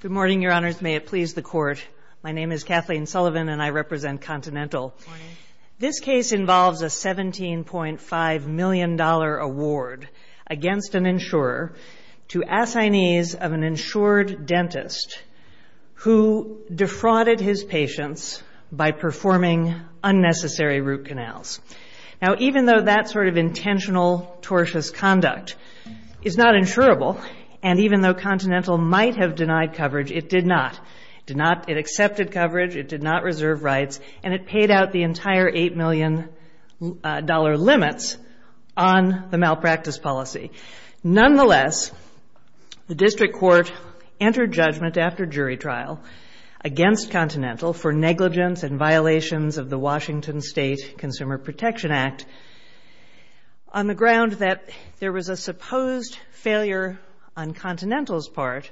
Good morning, Your Honors. May it please the Court, my name is Kathleen Sullivan and I represent Continental. This case involves a $17.5 million award against an insurer to assignees of an insured dentist who defrauded his patients by performing unnecessary root canals. Now, even though that sort of intentional tortious conduct is not insurable, and even though Continental might have denied coverage, it did not. It accepted coverage, it did not reserve rights, and it paid out the entire $8 million limits on the malpractice policy. Nonetheless, the District Court entered judgment after jury trial against Continental for negligence and violations of the Washington State Consumer Protection Act on the ground that there was a supposed failure on Continental's part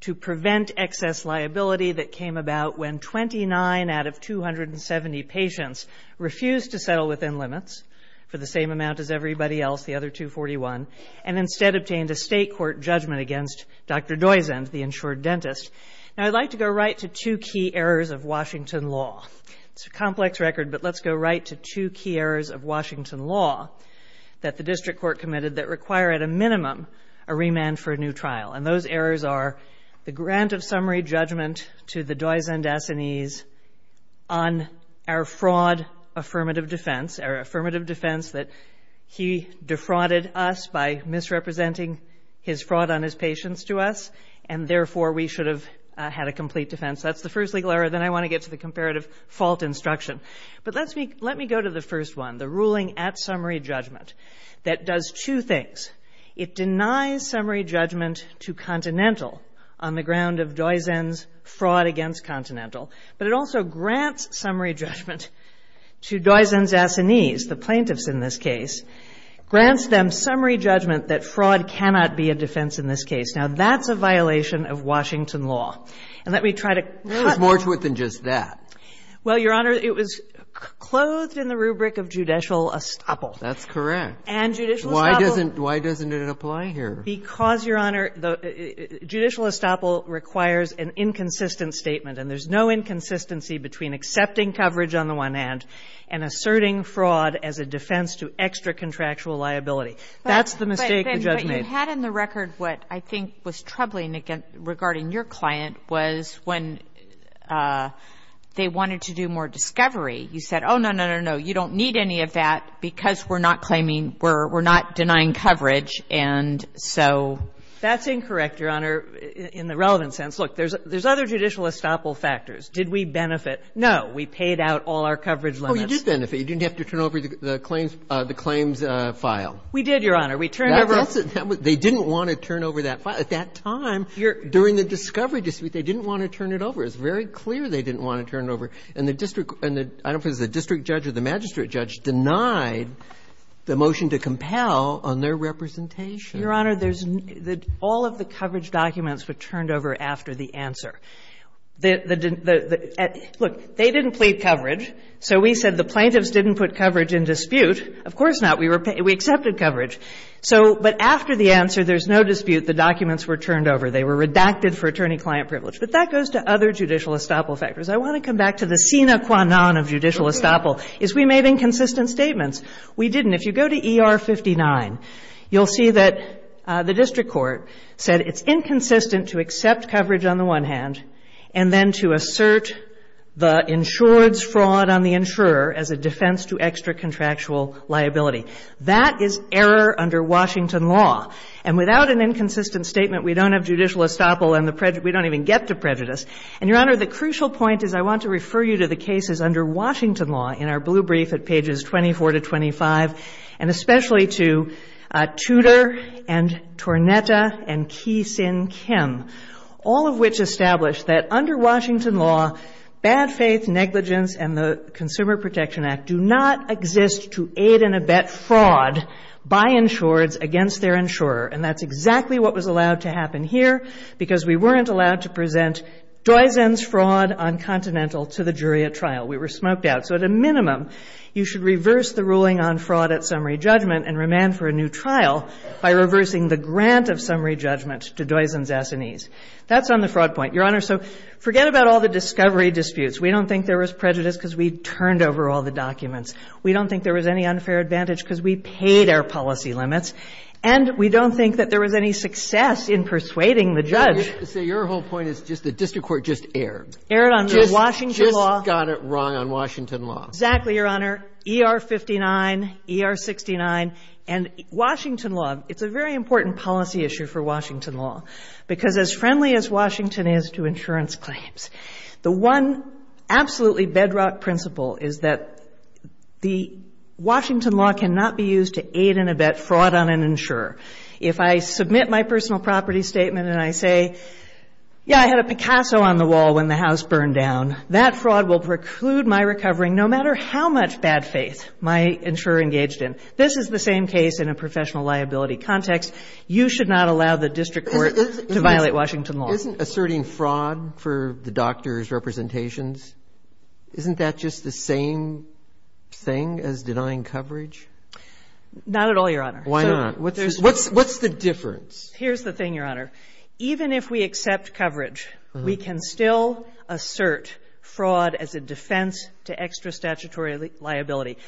to prevent excess liability that came about when 29 out of 270 patients refused to settle within limits for the same amount as everybody else, the other 241, and instead obtained a State Court judgment against Dr. Doizend, the insured dentist. Now, I'd like to go right to two key errors of Washington law. It's a complex record, but let's go right to two key errors of Washington law that the District Court committed that require at a minimum a remand for a new trial, and those errors are the grant of summary judgment to the Doizend assignees on our fraud affirmative defense, our affirmative defense that he defrauded us by misrepresenting his fraud on his patients to us, and therefore we should have had a complete defense. That's the first legal error. Then I want to get to the comparative fault instruction. But let me go to the first one, the ruling at summary judgment that does two things. It denies summary judgment to Continental on the ground of Doizend's fraud against Continental, but it also grants summary judgment to Doizend's assignees, the plaintiffs in this case, grants them summary judgment that fraud cannot be a defense in this case. Now, that's a violation of Washington law. And let me try to rule it out. It's more to it than just that. Well, Your Honor, it was clothed in the rubric of judicial estoppel. That's correct. And judicial estoppel Why doesn't it apply here? Because, Your Honor, judicial estoppel requires an inconsistent statement, and there's no inconsistency between accepting coverage on the one hand and asserting fraud as a defense to extra-contractual liability. That's the mistake the judge made. But you had in the record what I think was troubling regarding your client was when they wanted to do more discovery, you said, oh, no, no, no, no, you don't need any of that because we're not denying coverage. And so that's incorrect, Your Honor, in the relevant sense. Look, there's other judicial estoppel factors. Did we benefit? No. We paid out all our coverage limits. Oh, you did benefit. You didn't have to turn over the claims file. We did, Your Honor. We turned over. They didn't want to turn over that file. At that time, during the discovery dispute, they didn't want to turn it over. It's very clear they didn't want to turn it over. And the district or the magistrate judge denied the motion to compel on their representation. Your Honor, all of the coverage documents were turned over after the answer. Look, they didn't plead coverage, so we said the plaintiffs didn't put coverage in dispute. Of course not. We accepted coverage. So but after the answer, there's no dispute, the documents were turned over. They were redacted for attorney-client privilege. But that goes to other judicial estoppel factors. I want to come back to the sine qua non of judicial estoppel, is we made inconsistent statements. We didn't. If you go to ER-59, you'll see that the district court said it's inconsistent to accept coverage on the one hand and then to assert the insured's fraud on the insurer as a defense to extra-contractual liability. That is error under Washington law. And without an inconsistent statement, we don't have judicial estoppel and we don't even get to prejudice. And, Your Honor, the crucial point is I want to refer you to the cases under Washington law in our blue brief at pages 24 to 25, and especially to Tudor and Tornetta and Kee Sin Kim, all of which establish that under Washington law, bad faith, negligence and the Consumer Protection Act do not exist to aid and abet fraud by insureds against their insurer. And that's exactly what was allowed to happen here because we weren't allowed to present Doizen's fraud on Continental to the jury at trial. We were smoked out. So at a minimum, you should reverse the ruling on fraud at summary judgment and remand for a new trial by reversing the grant of summary judgment to Doizen's S&Es. That's on the fraud point. Your Honor, so forget about all the discovery disputes. We don't think there was prejudice because we turned over all the documents. We don't think there was any unfair advantage because we paid our policy limits. And we don't think that there was any success in persuading the judge. So your whole point is just the district court just erred. Erred under Washington law. Just got it wrong on Washington law. Exactly, Your Honor. ER-59, ER-69, and Washington law. It's a very important policy issue for Washington law because as friendly as Washington is to insurance claims, the one absolutely bedrock principle is that the Washington law cannot be used to aid and abet fraud on an insurer. If I submit my personal property statement and I say, yeah, I had a Picasso on the wall when the house burned down, that fraud will preclude my recovering no matter how much bad faith my insurer engaged in. This is the same case in a professional liability context. You should not allow the district court to violate Washington law. But isn't asserting fraud for the doctor's representations, isn't that just the same thing as denying coverage? Not at all, Your Honor. Why not? What's the difference? Here's the thing, Your Honor. Even if we accept coverage, we can still assert fraud as a defense to extra statutory liability.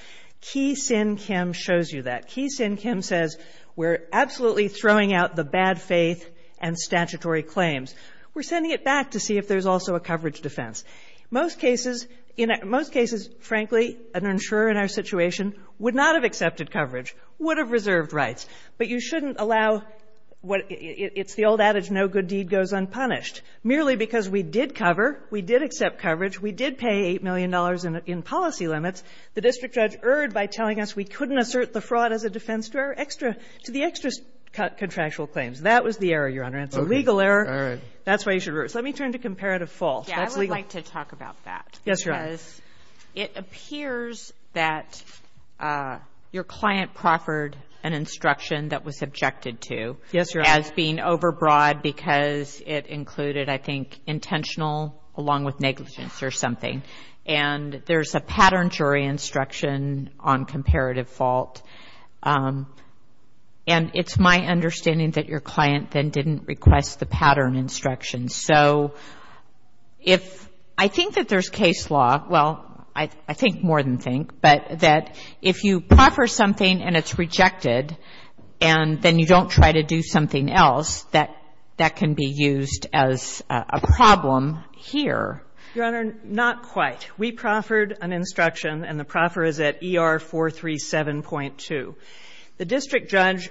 Kee Sin Kim shows you that. Kee Sin Kim says we're absolutely throwing out the bad faith and statutory claims. We're sending it back to see if there's also a coverage defense. Most cases, in most cases, frankly, an insurer in our situation would not have accepted coverage, would have reserved rights. But you shouldn't allow what it's the old adage, no good deed goes unpunished. Merely because we did cover, we did accept coverage, we did pay $8 million in policy limits. The district judge erred by telling us we couldn't assert the fraud as a defense to our extra, to the extra contractual claims. That was the error, Your Honor. It's a legal error. All right. That's why you should err. So let me turn to comparative false. That's legal. Yeah, I would like to talk about that. Yes, Your Honor. Because it appears that your client proffered an instruction that was subjected to. Yes, Your Honor. As being overbroad because it included, I think, intentional along with negligence or something. And there's a pattern jury instruction on comparative fault. And it's my understanding that your client then didn't request the pattern instruction. So if I think that there's case law, well, I think more than think, but that if you proffer something and it's rejected, and then you don't try to do something else, that can be used as a problem here. Your Honor, not quite. We proffered an instruction. And the proffer is at ER 437.2. The district judge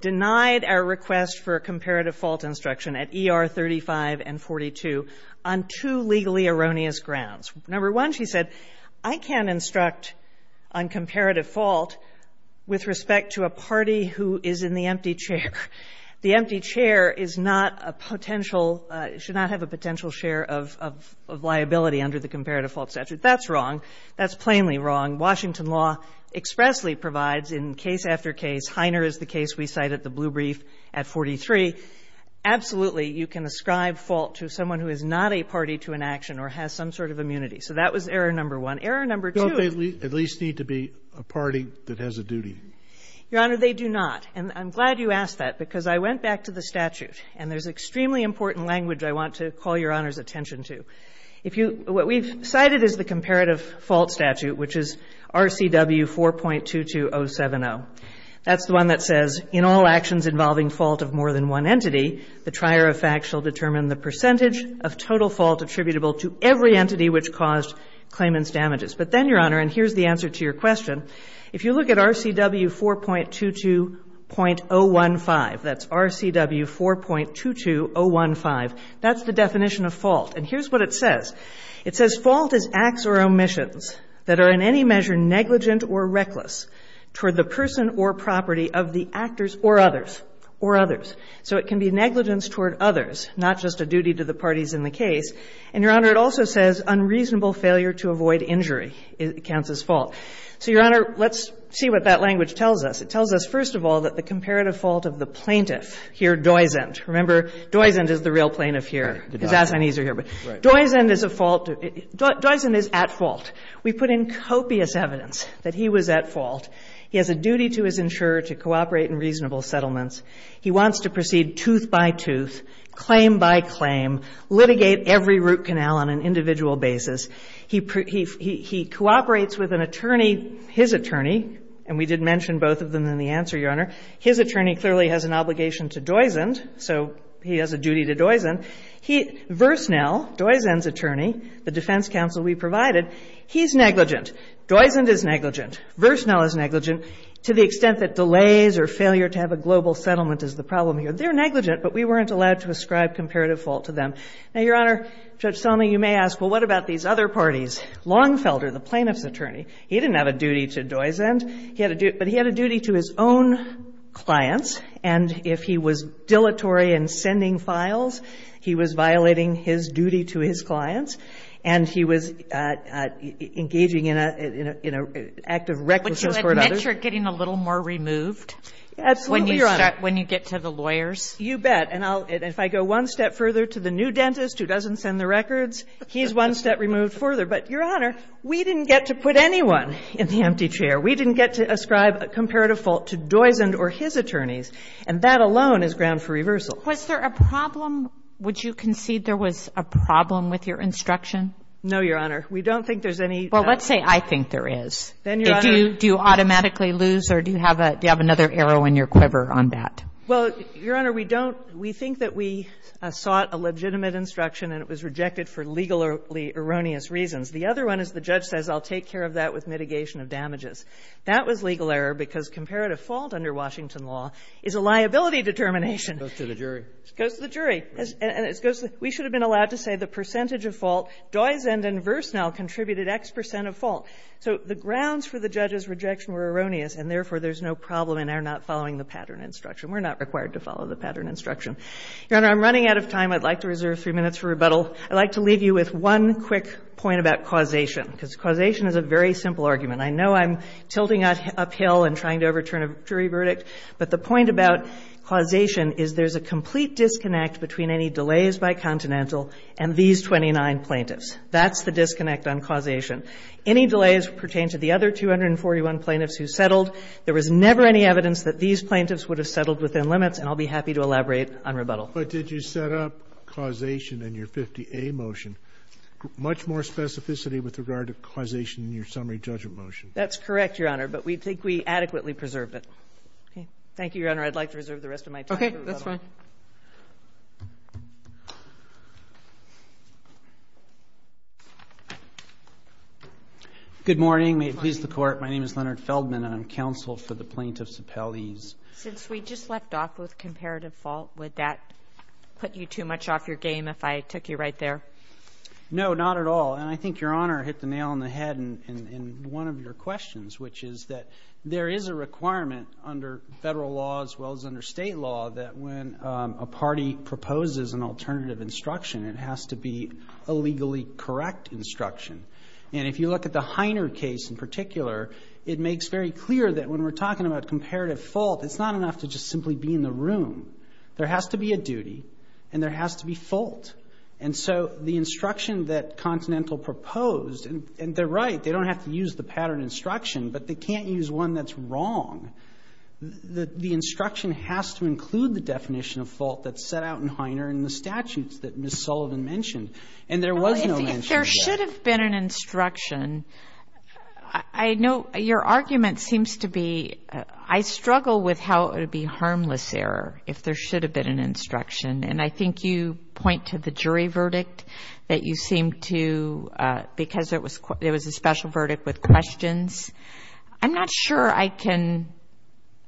denied our request for a comparative fault instruction at ER 35 and 42 on two legally erroneous grounds. Number one, she said, I can't instruct on comparative fault with respect to a party who is in the empty chair. The empty chair is not a potential, should not have a potential share of liability under the comparative fault statute. That's wrong. That's plainly wrong. Washington law expressly provides in case after case, Heiner is the case we cite at the blue brief at 43, absolutely, you can ascribe fault to someone who is not a party to an action or has some sort of immunity. So that was error number one. Error number two. Don't they at least need to be a party that has a duty? Your Honor, they do not. And I'm glad you asked that, because I went back to the statute. And there's extremely important language I want to call Your Honor's attention to. What we've cited is the comparative fault statute, which is RCW 4.22070. That's the one that says, in all actions involving fault of more than one entity, the trier of facts shall determine the percentage of total fault attributable to every entity which caused claimant's damages. But then, Your Honor, and here's the answer to your question, if you look at RCW 4.22.015, that's RCW 4.22015, that's the definition of fault. And here's what it says. It says, Fault is acts or omissions that are in any measure negligent or reckless toward the person or property of the actors or others. Or others. So it can be negligence toward others, not just a duty to the parties in the case. And, Your Honor, it also says unreasonable failure to avoid injury counts as fault. So, Your Honor, let's see what that language tells us. It tells us, first of all, that the comparative fault of the plaintiff, here, Doizend Remember, Doizend is the real plaintiff here. His assinees are here. But Doizend is a fault. Doizend is at fault. We put in copious evidence that he was at fault. He has a duty to his insurer to cooperate in reasonable settlements. He wants to proceed tooth by tooth, claim by claim, litigate every root canal on an individual basis. He cooperates with an attorney, his attorney, and we did mention both of them in the answer, Your Honor. His attorney clearly has an obligation to Doizend. So he has a duty to Doizend. Versnell, Doizend's attorney, the defense counsel we provided, he's negligent. Doizend is negligent. Versnell is negligent. To the extent that delays or failure to have a global settlement is the problem here. They're negligent, but we weren't allowed to ascribe comparative fault to them. Now, Your Honor, Judge Sotomayor, you may ask, well, what about these other parties? Longfelder, the plaintiff's attorney, he didn't have a duty to Doizend. He had a duty to his own clients. And if he was dilatory in sending files, he was violating his duty to his clients, and he was engaging in an act of recklessness toward others. But you admit you're getting a little more removed when you get to the lawyers? You bet. And if I go one step further to the new dentist who doesn't send the records, he's one step removed further. But, Your Honor, we didn't get to put anyone in the empty chair. We didn't get to ascribe a comparative fault to Doizend or his attorneys. And that alone is ground for reversal. Was there a problem? Would you concede there was a problem with your instruction? No, Your Honor. We don't think there's any doubt. Well, let's say I think there is. Then, Your Honor. Do you automatically lose or do you have another arrow in your quiver on that? Well, Your Honor, we don't. We think that we sought a legitimate instruction and it was rejected for legally erroneous reasons. The other one is the judge says I'll take care of that with mitigation of damages. That was legal error because comparative fault under Washington law is a liability determination. It goes to the jury. It goes to the jury. And it goes to the jury. We should have been allowed to say the percentage of fault, Doizend and Versnell contributed X percent of fault. So the grounds for the judge's rejection were erroneous, and therefore, there's no problem in our not following the pattern instruction. We're not required to follow the pattern instruction. Your Honor, I'm running out of time. I'd like to reserve three minutes for rebuttal. I'd like to leave you with one quick point about causation because causation is a very simple argument. I know I'm tilting uphill and trying to overturn a jury verdict, but the point about causation is there's a complete disconnect between any delays by Continental and these 29 plaintiffs. That's the disconnect on causation. Any delays pertain to the other 241 plaintiffs who settled. There was never any evidence that these plaintiffs would have settled within limits, and I'll be happy to elaborate on rebuttal. But did you set up causation in your 50A motion? Much more specificity with regard to causation in your summary judgment motion. That's correct, Your Honor, but we think we adequately preserved it. Thank you, Your Honor. I'd like to reserve the rest of my time for rebuttal. Good morning. May it please the Court. My name is Leonard Feldman, and I'm counsel for the plaintiffs' appellees. Since we just left off with comparative fault, would that put you too much off your game if I took you right there? No, not at all. And I think Your Honor hit the nail on the head in one of your questions, which is that there is a requirement under Federal law as well as under State law that when a party proposes an alternative instruction, it has to be a legally correct instruction. And if you look at the Heiner case in particular, it makes very clear that when we're talking about comparative fault, it's not enough to just simply be in the room. There has to be a duty, and there has to be fault. And so the instruction that Continental proposed, and they're right, they don't have to use the pattern instruction, but they can't use one that's wrong. The instruction has to include the definition of fault that's set out in Heiner and the statutes that Ms. Sullivan mentioned. And there was no mention of that. If there should have been an instruction, I know your argument seems to be I struggle with how it would be harmless error if there should have been an instruction. And I think you point to the jury verdict that you seem to, because there was a special verdict with questions. I'm not sure I can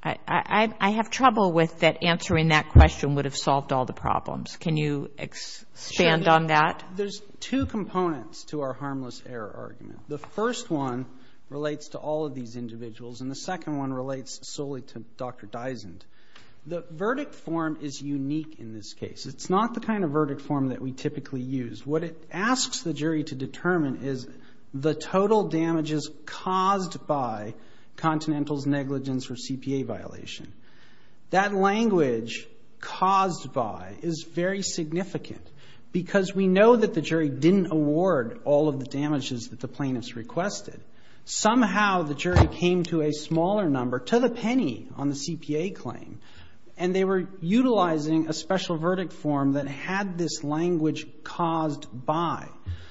‑‑ I have trouble with that answering that question would have solved all the problems. Can you expand on that? There's two components to our harmless error argument. The first one relates to all of these individuals, and the second one relates solely to Dr. Dysand. The verdict form is unique in this case. It's not the kind of verdict form that we typically use. What it asks the jury to determine is the total damages caused by Continental's negligence or CPA violation. That language caused by is very significant because we know that the jury didn't award all of the damages that the plaintiffs requested. Somehow the jury came to a smaller number, to the penny on the CPA claim, and they were utilizing a special verdict form that had this language caused by.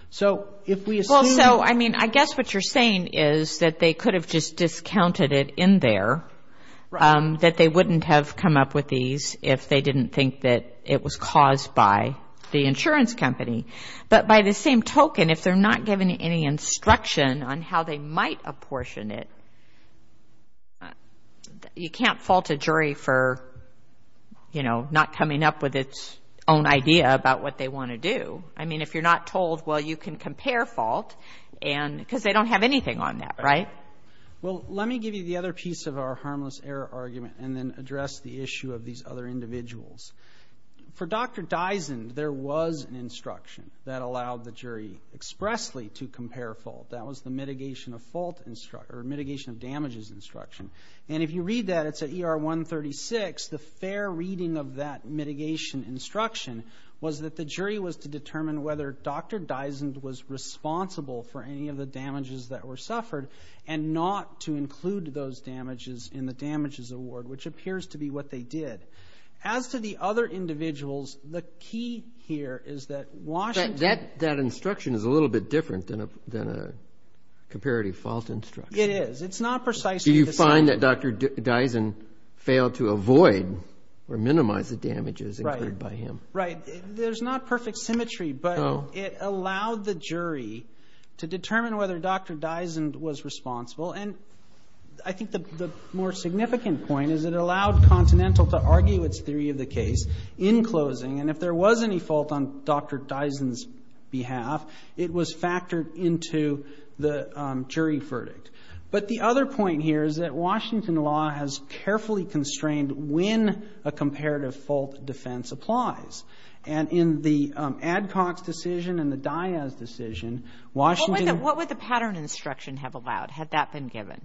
So if we assume ‑‑ Well, so, I mean, I guess what you're saying is that they could have just said that they wouldn't have come up with these if they didn't think that it was caused by the insurance company. But by the same token, if they're not given any instruction on how they might apportion it, you can't fault a jury for, you know, not coming up with its own idea about what they want to do. I mean, if you're not told, well, you can compare fault, because they don't have anything on that, right? Well, let me give you the other piece of our harmless error argument and then address the issue of these other individuals. For Dr. Dysand, there was an instruction that allowed the jury expressly to compare fault. That was the mitigation of damages instruction. And if you read that, it's at ER 136, the fair reading of that mitigation instruction was that the jury was to determine whether Dr. Dysand was And not to include those damages in the damages award, which appears to be what they did. As to the other individuals, the key here is that Washington That instruction is a little bit different than a comparative fault instruction. It is. It's not precisely the same. Do you find that Dr. Dysand failed to avoid or minimize the damages incurred by him? Right. There's not perfect symmetry, but it allowed the jury to determine whether Dr. Dysand was responsible. And I think the more significant point is it allowed Continental to argue its theory of the case in closing. And if there was any fault on Dr. Dysand's behalf, it was factored into the jury verdict. But the other point here is that Washington law has carefully constrained when a comparative fault defense applies. And in the Adcox decision and the Diaz decision, Washington What would the pattern instruction have allowed? Had that been given?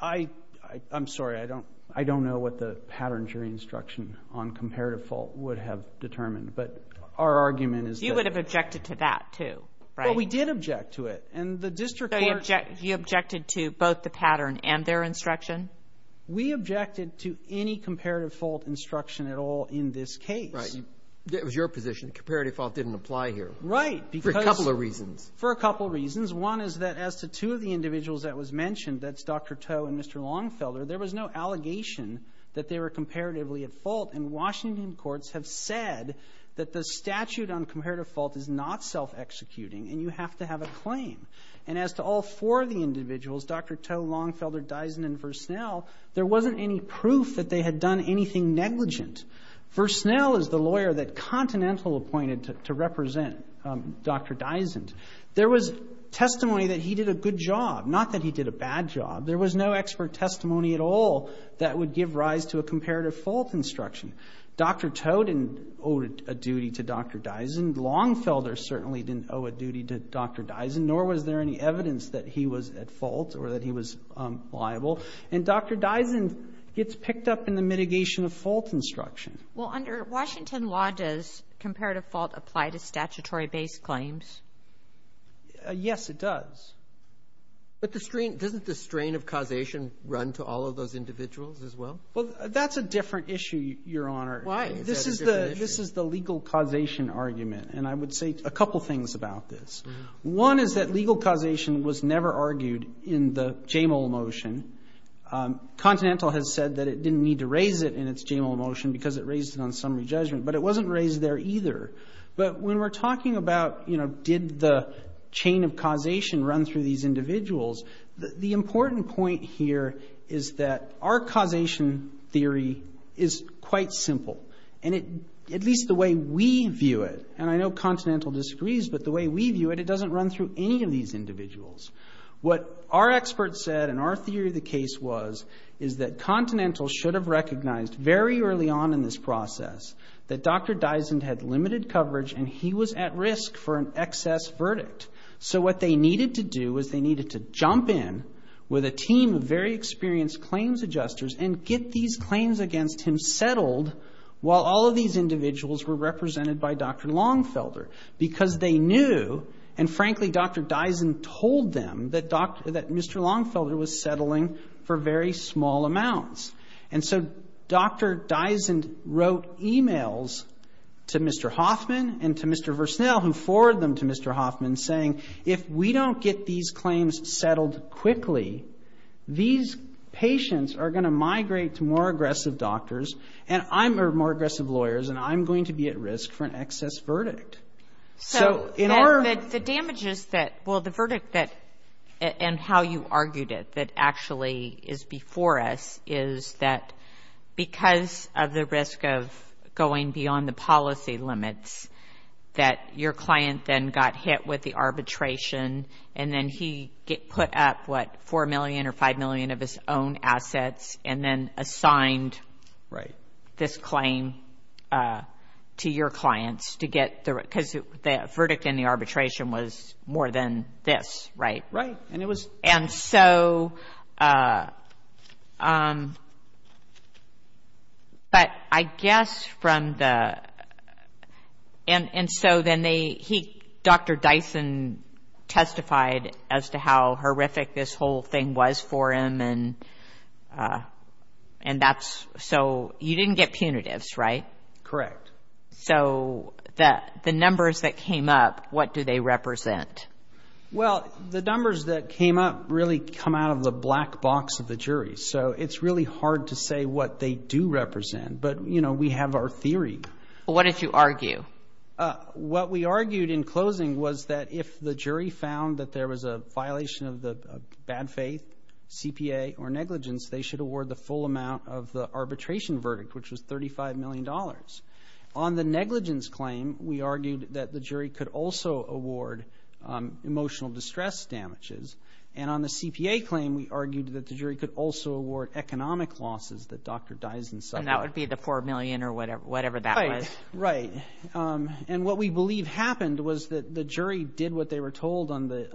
I'm sorry. I don't know what the pattern jury instruction on comparative fault would have determined. But our argument is that You would have objected to that, too, right? Well, we did object to it. And the district court So you objected to both the pattern and their instruction? We objected to any comparative fault instruction at all in this case. Right. It was your position. Comparative fault didn't apply here. Right. For a couple of reasons. For a couple of reasons. One is that as to two of the individuals that was mentioned, that's Dr. Toh and Mr. Longfelder, there was no allegation that they were comparatively at fault. And Washington courts have said that the statute on comparative fault is not self-executing, and you have to have a claim. And as to all four of the individuals, Dr. Toh, Longfelder, Dysand, and Versnell, there wasn't any proof that they had done anything negligent. Versnell is the lawyer that Continental appointed to represent Dr. Dysand. There was testimony that he did a good job, not that he did a bad job. There was no expert testimony at all that would give rise to a comparative fault instruction. Dr. Toh didn't owe a duty to Dr. Dysand. Longfelder certainly didn't owe a duty to Dr. Dysand, nor was there any evidence that he was at fault or that he was liable. And Dr. Dysand gets picked up in the mitigation of fault instruction. Well, under Washington law, does comparative fault apply to statutory-based claims? Yes, it does. But the strain — doesn't the strain of causation run to all of those individuals as well? Well, that's a different issue, Your Honor. Why? This is the legal causation argument, and I would say a couple things about this. One is that legal causation was never argued in the JAMAL motion. Continental has said that it didn't need to raise it in its JAMAL motion because it raised it on summary judgment, but it wasn't raised there either. But when we're talking about, you know, did the chain of causation run through these individuals, the important point here is that our causation theory is quite simple, and it — at least the way we view it, and I know Continental disagrees, but the way we view it, it doesn't run through any of these individuals. What our experts said and our theory of the case was is that Continental should have recognized very early on in this process that Dr. Dysand had limited coverage and he was at risk for an excess verdict. So what they needed to do was they needed to jump in with a team of very experienced claims adjusters and get these claims against him settled while all these individuals were represented by Dr. Longfelder because they knew, and frankly, Dr. Dysand told them that Dr. — that Mr. Longfelder was settling for very small amounts. And so Dr. Dysand wrote emails to Mr. Hoffman and to Mr. Versnell who forwarded them to Mr. Hoffman saying, if we don't get these claims settled quickly, these patients are going to migrate to more aggressive doctors, and I'm — or more aggressive lawyers, and I'm going to be at risk for an excess verdict. So in our — So the damages that — well, the verdict that — and how you argued it that actually is before us is that because of the risk of going beyond the policy limits, that your client then got hit with the arbitration and then he put up, what, $4 million or $5 million of his own assets and then assigned — Right. — this claim to your clients to get the — because the verdict in the arbitration was more than this, right? Right. And it was — And so — but I guess from the — and so then they — Dr. Dysand testified as to how horrific this whole thing was for him, and that's — so you didn't get punitives, right? Correct. So the numbers that came up, what do they represent? Well, the numbers that came up really come out of the black box of the jury, so it's really hard to say what they do represent, but, you know, we have our theory. What did you argue? What we argued in closing was that if the jury found that there was a violation of the bad faith, CPA, or negligence, they should award the full amount of the arbitration verdict, which was $35 million. On the negligence claim, we argued that the jury could also award emotional distress damages, and on the CPA claim, we argued that the jury could also award economic losses that Dr. Dysand — And that would be the $4 million or whatever that was. Right. And what we believe happened was that the jury did what they were told on the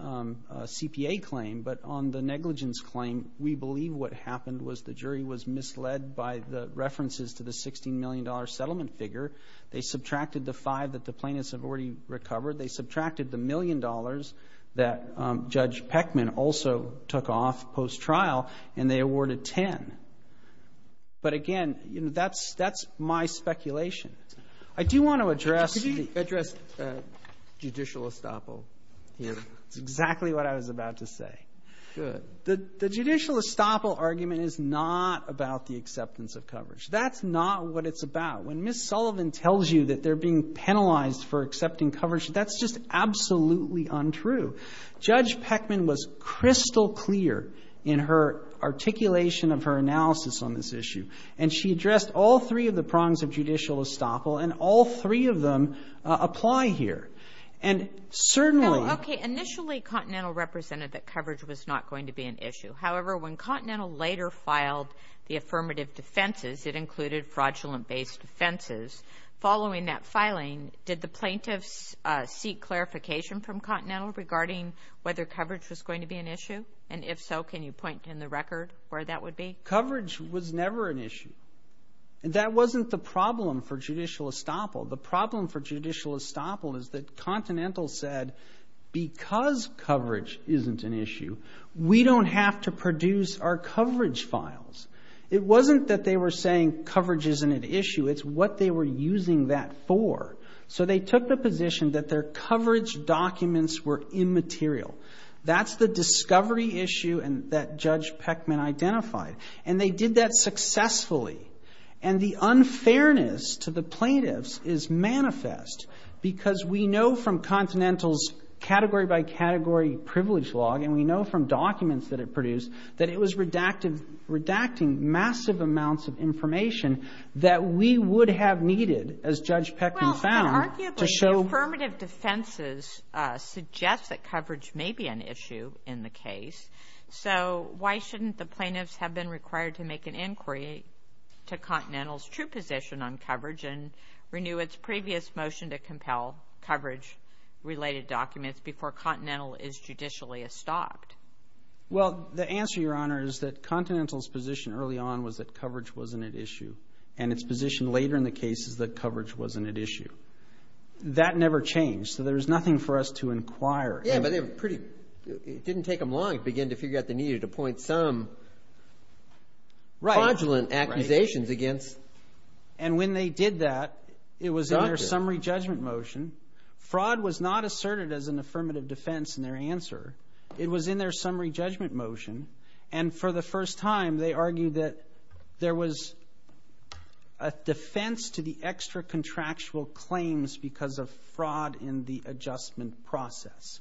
CPA claim, but on the negligence claim, we believe what happened was the jury was misled by the references to the $16 million settlement figure. They subtracted the five that the plaintiffs have already recovered. They subtracted the million dollars that Judge Peckman also took off post-trial, and they awarded 10. But again, you know, that's my speculation. I do want to address the — Could you address judicial estoppel? That's exactly what I was about to say. Good. The judicial estoppel argument is not about the acceptance of coverage. That's not what it's about. When Ms. Sullivan tells you that they're being penalized for accepting coverage, that's just absolutely untrue. Judge Peckman was crystal clear in her articulation of her analysis on this issue, and she addressed all three of the prongs of judicial estoppel, and all three of them apply here. And certainly — Okay. Initially, Continental represented that coverage was not going to be an issue. However, when Continental later filed the affirmative defenses, it included fraudulent-based offenses. Following that filing, did the plaintiffs seek clarification from Continental regarding whether coverage was going to be an issue? And if so, can you point in the record where that would be? Coverage was never an issue. That wasn't the problem for judicial estoppel. The problem for judicial estoppel is that Continental said, because coverage isn't an issue, we don't have to produce our coverage files. It wasn't that they were saying coverage isn't an issue. It's what they were using that for. So they took the position that their coverage documents were immaterial. That's the discovery issue that Judge Peckman identified. And they did that successfully. And the unfairness to the plaintiffs is manifest, because we know from Continental's category-by-category privilege log, and we know from documents that it produced, that it was redacting massive amounts of information that we would have needed, as Judge Peckman found, to show ---- Well, arguably, affirmative defenses suggest that coverage may be an issue in the case. So why shouldn't the plaintiffs have been required to make an inquiry to Continental's true position on coverage and renew its previous motion to compel coverage-related documents before Continental is judicially estopped? Well, the answer, Your Honor, is that Continental's position early on was that coverage wasn't an issue. And its position later in the case is that coverage wasn't an issue. That never changed. So there was nothing for us to inquire. Yeah, but they were pretty ---- It didn't take them long to begin to figure out they needed to point some fraudulent accusations against doctors. And when they did that, it was in their summary judgment motion. Fraud was not asserted as an affirmative defense in their answer. It was in their summary judgment motion. And for the first time, they argued that there was a defense to the extra contractual claims because of fraud in the adjustment process.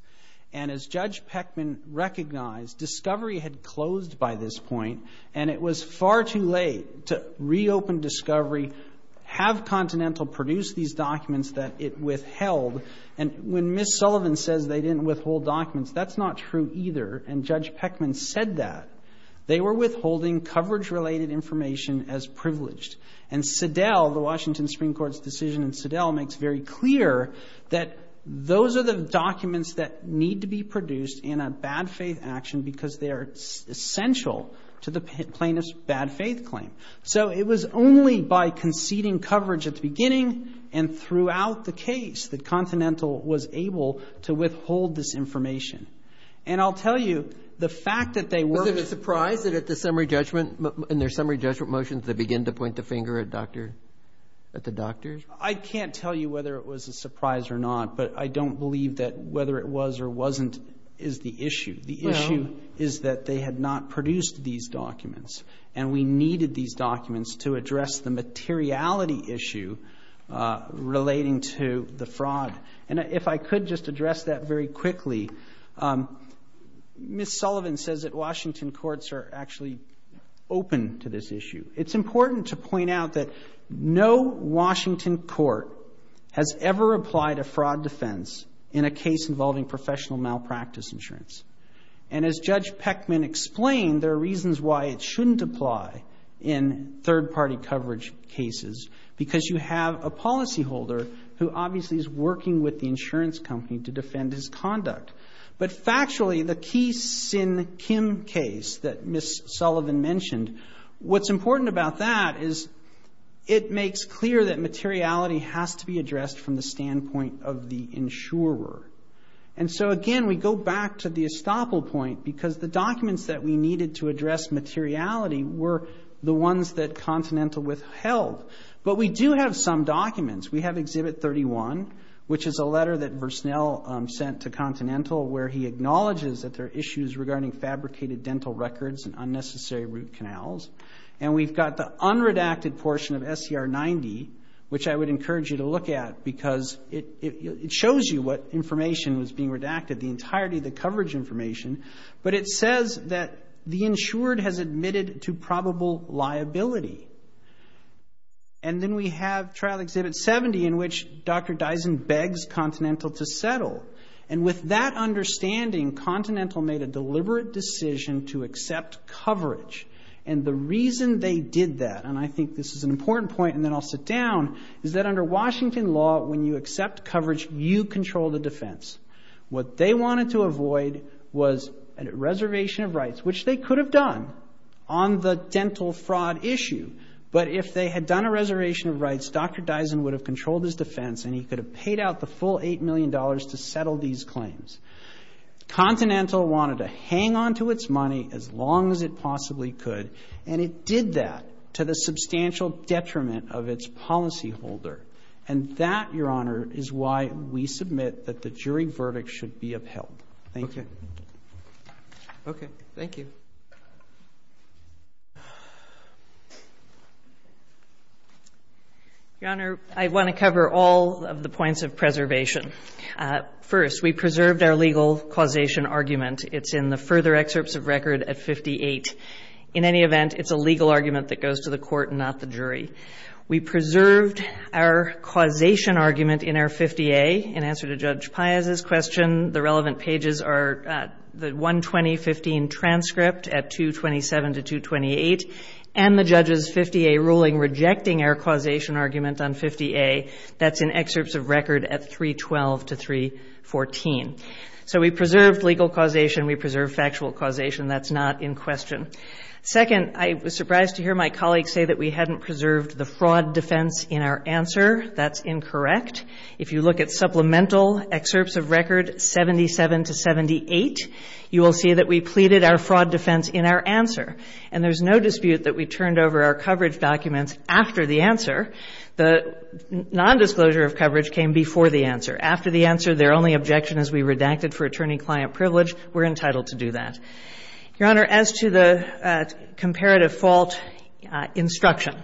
And as Judge Peckman recognized, Discovery had closed by this point, and it was far too late to reopen Discovery, have Continental produce these documents that it withheld. And when Ms. Sullivan says they didn't withhold documents, that's not true either. And Judge Peckman said that. They were withholding coverage-related information as privileged. And Sedell, the Washington Supreme Court's decision in Sedell, makes very clear that those are the documents that need to be produced in a bad-faith action because they are essential to the plaintiff's bad-faith claim. So it was only by conceding coverage at the beginning and throughout the case that Continental was able to withhold this information. And I'll tell you, the fact that they weren't- Roberts. Was it a surprise that at the summary judgment, in their summary judgment motions, they begin to point the finger at Dr. — at the doctors? I can't tell you whether it was a surprise or not, but I don't believe that whether it was or wasn't is the issue. The issue is that they had not produced these documents, and we needed these documents to address the materiality issue relating to the fraud. And if I could just address that very quickly, Ms. Sullivan says that Washington courts are actually open to this issue. It's important to point out that no Washington court has ever applied a fraud defense in a case involving professional malpractice insurance. And as Judge Peckman explained, there are reasons why it shouldn't apply in third-party coverage cases, because you have a policyholder who obviously is working with the insurance company to defend his conduct. But factually, the Kee Sin Kim case that Ms. Sullivan mentioned, what's important about that is it makes clear that materiality has to be addressed from the standpoint of the insurer. And so, again, we go back to the estoppel point, because the documents that we needed to address materiality were the ones that Continental withheld. But we do have some documents. We have Exhibit 31, which is a letter that Versnell sent to Continental where he acknowledges that there are issues regarding fabricated dental records and unnecessary root canals. And we've got the unredacted portion of SER 90, which I would encourage you to look at, because it shows you what information was being redacted, the entirety of the coverage information. But it says that the insured has admitted to probable liability. And then we have Trial Exhibit 70, in which Dr. Dyson begs Continental to settle. And with that understanding, Continental made a deliberate decision to accept coverage. And the reason they did that, and I think this is an important point and then I'll sit down, is that under Washington law, when you accept coverage, you control the defense. What they wanted to avoid was a reservation of rights, which they could have done on the dental fraud issue. But if they had done a reservation of rights, Dr. Dyson would have controlled his defense and he could have paid out the full $8 million to settle these claims. Continental wanted to hang on to its money as long as it possibly could. And it did that to the substantial detriment of its policyholder. And that, Your Honor, is why we submit that the jury verdict should be upheld. Thank you. Okay. Thank you. Your Honor, I want to cover all of the points of preservation. First, we preserved our legal causation argument. It's in the further excerpts of record at 58. In any event, it's a legal argument that goes to the court and not the jury. We preserved our causation argument in our 50A. In answer to Judge Piazza's question, the relevant pages are the 120-15 transcript at 227 to 228 and the judge's 50A ruling rejecting our causation argument on 50A. That's in excerpts of record at 312 to 314. So we preserved legal causation. We preserved factual causation. That's not in question. Second, I was surprised to hear my colleagues say that we hadn't preserved the fraud defense in our answer. That's incorrect. If you look at supplemental excerpts of record 77 to 78, you will see that we pleaded our fraud defense in our answer. And there's no dispute that we turned over our coverage documents after the answer. The nondisclosure of coverage came before the answer. After the answer, their only objection is we redacted for attorney-client privilege. We're entitled to do that. Your Honor, as to the comparative fault instruction,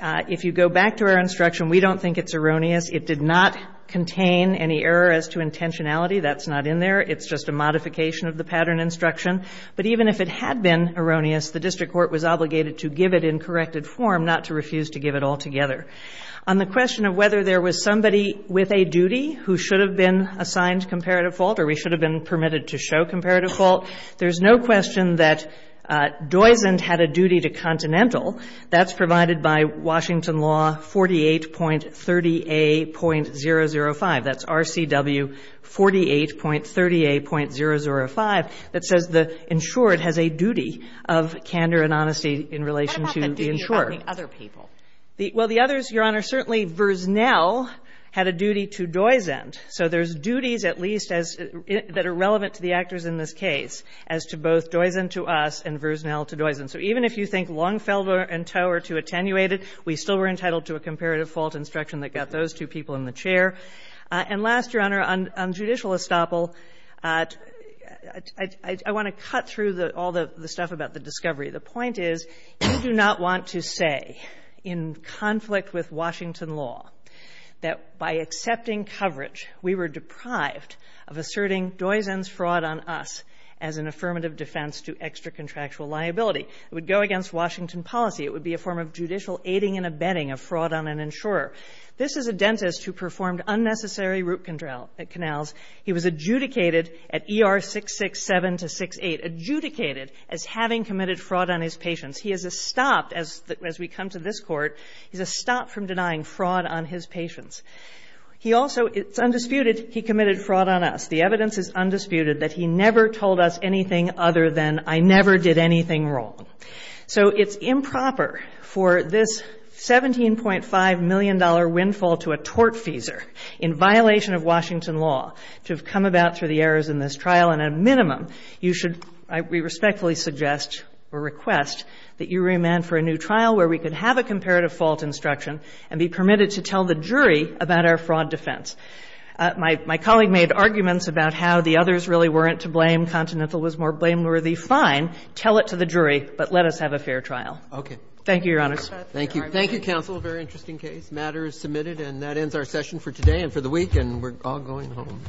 if you go back to our instruction, we don't think it's erroneous. It did not contain any error as to intentionality. That's not in there. It's just a modification of the pattern instruction. But even if it had been erroneous, the district court was obligated to give it in corrected form, not to refuse to give it altogether. On the question of whether there was somebody with a duty who should have been assigned comparative fault or we should have been permitted to show comparative fault, there's no question that Doizend had a duty to Continental. That's provided by Washington law 48.30a.005. That's RCW 48.30a.005. That says the insured has a duty of candor and honesty in relation to the insured. What about the duty of other people? Well, the others, Your Honor, certainly Versnell had a duty to Doizend. So there's duties at least as — that are relevant to the actors in this case as to both Doizend to us and Versnell to Doizend. So even if you think Longfellow and Towe are too attenuated, we still were entitled to a comparative fault instruction that got those two people in the chair. And last, Your Honor, on judicial estoppel, I want to cut through all the stuff about the discovery. The point is you do not want to say in conflict with Washington law that by accepting coverage, we were deprived of asserting Doizend's fraud on us as an affirmative defense to extra-contractual liability. It would go against Washington policy. It would be a form of judicial aiding and abetting of fraud on an insurer. This is a dentist who performed unnecessary root canals. He was adjudicated at ER 667 to 68, adjudicated as having committed fraud on his patients. He is a stop, as we come to this Court, he's a stop from denying fraud on his patients. He also, it's undisputed, he committed fraud on us. The evidence is undisputed that he never told us anything other than I never did anything wrong. So it's improper for this $17.5 million windfall to a tortfeasor in violation of Washington law to have come about through the errors in this trial. And at a minimum, you should, we respectfully suggest or request that you remand for a new trial where we could have a comparative fault instruction and be permitted to tell the jury about our fraud defense. My colleague made arguments about how the others really weren't to blame. Continental was more blameworthy. Fine. Tell it to the jury, but let us have a fair trial. Thank you, Your Honors. Thank you. Thank you, counsel. A very interesting case. The matter is submitted. And that ends our session for today and for the week, and we're all going home.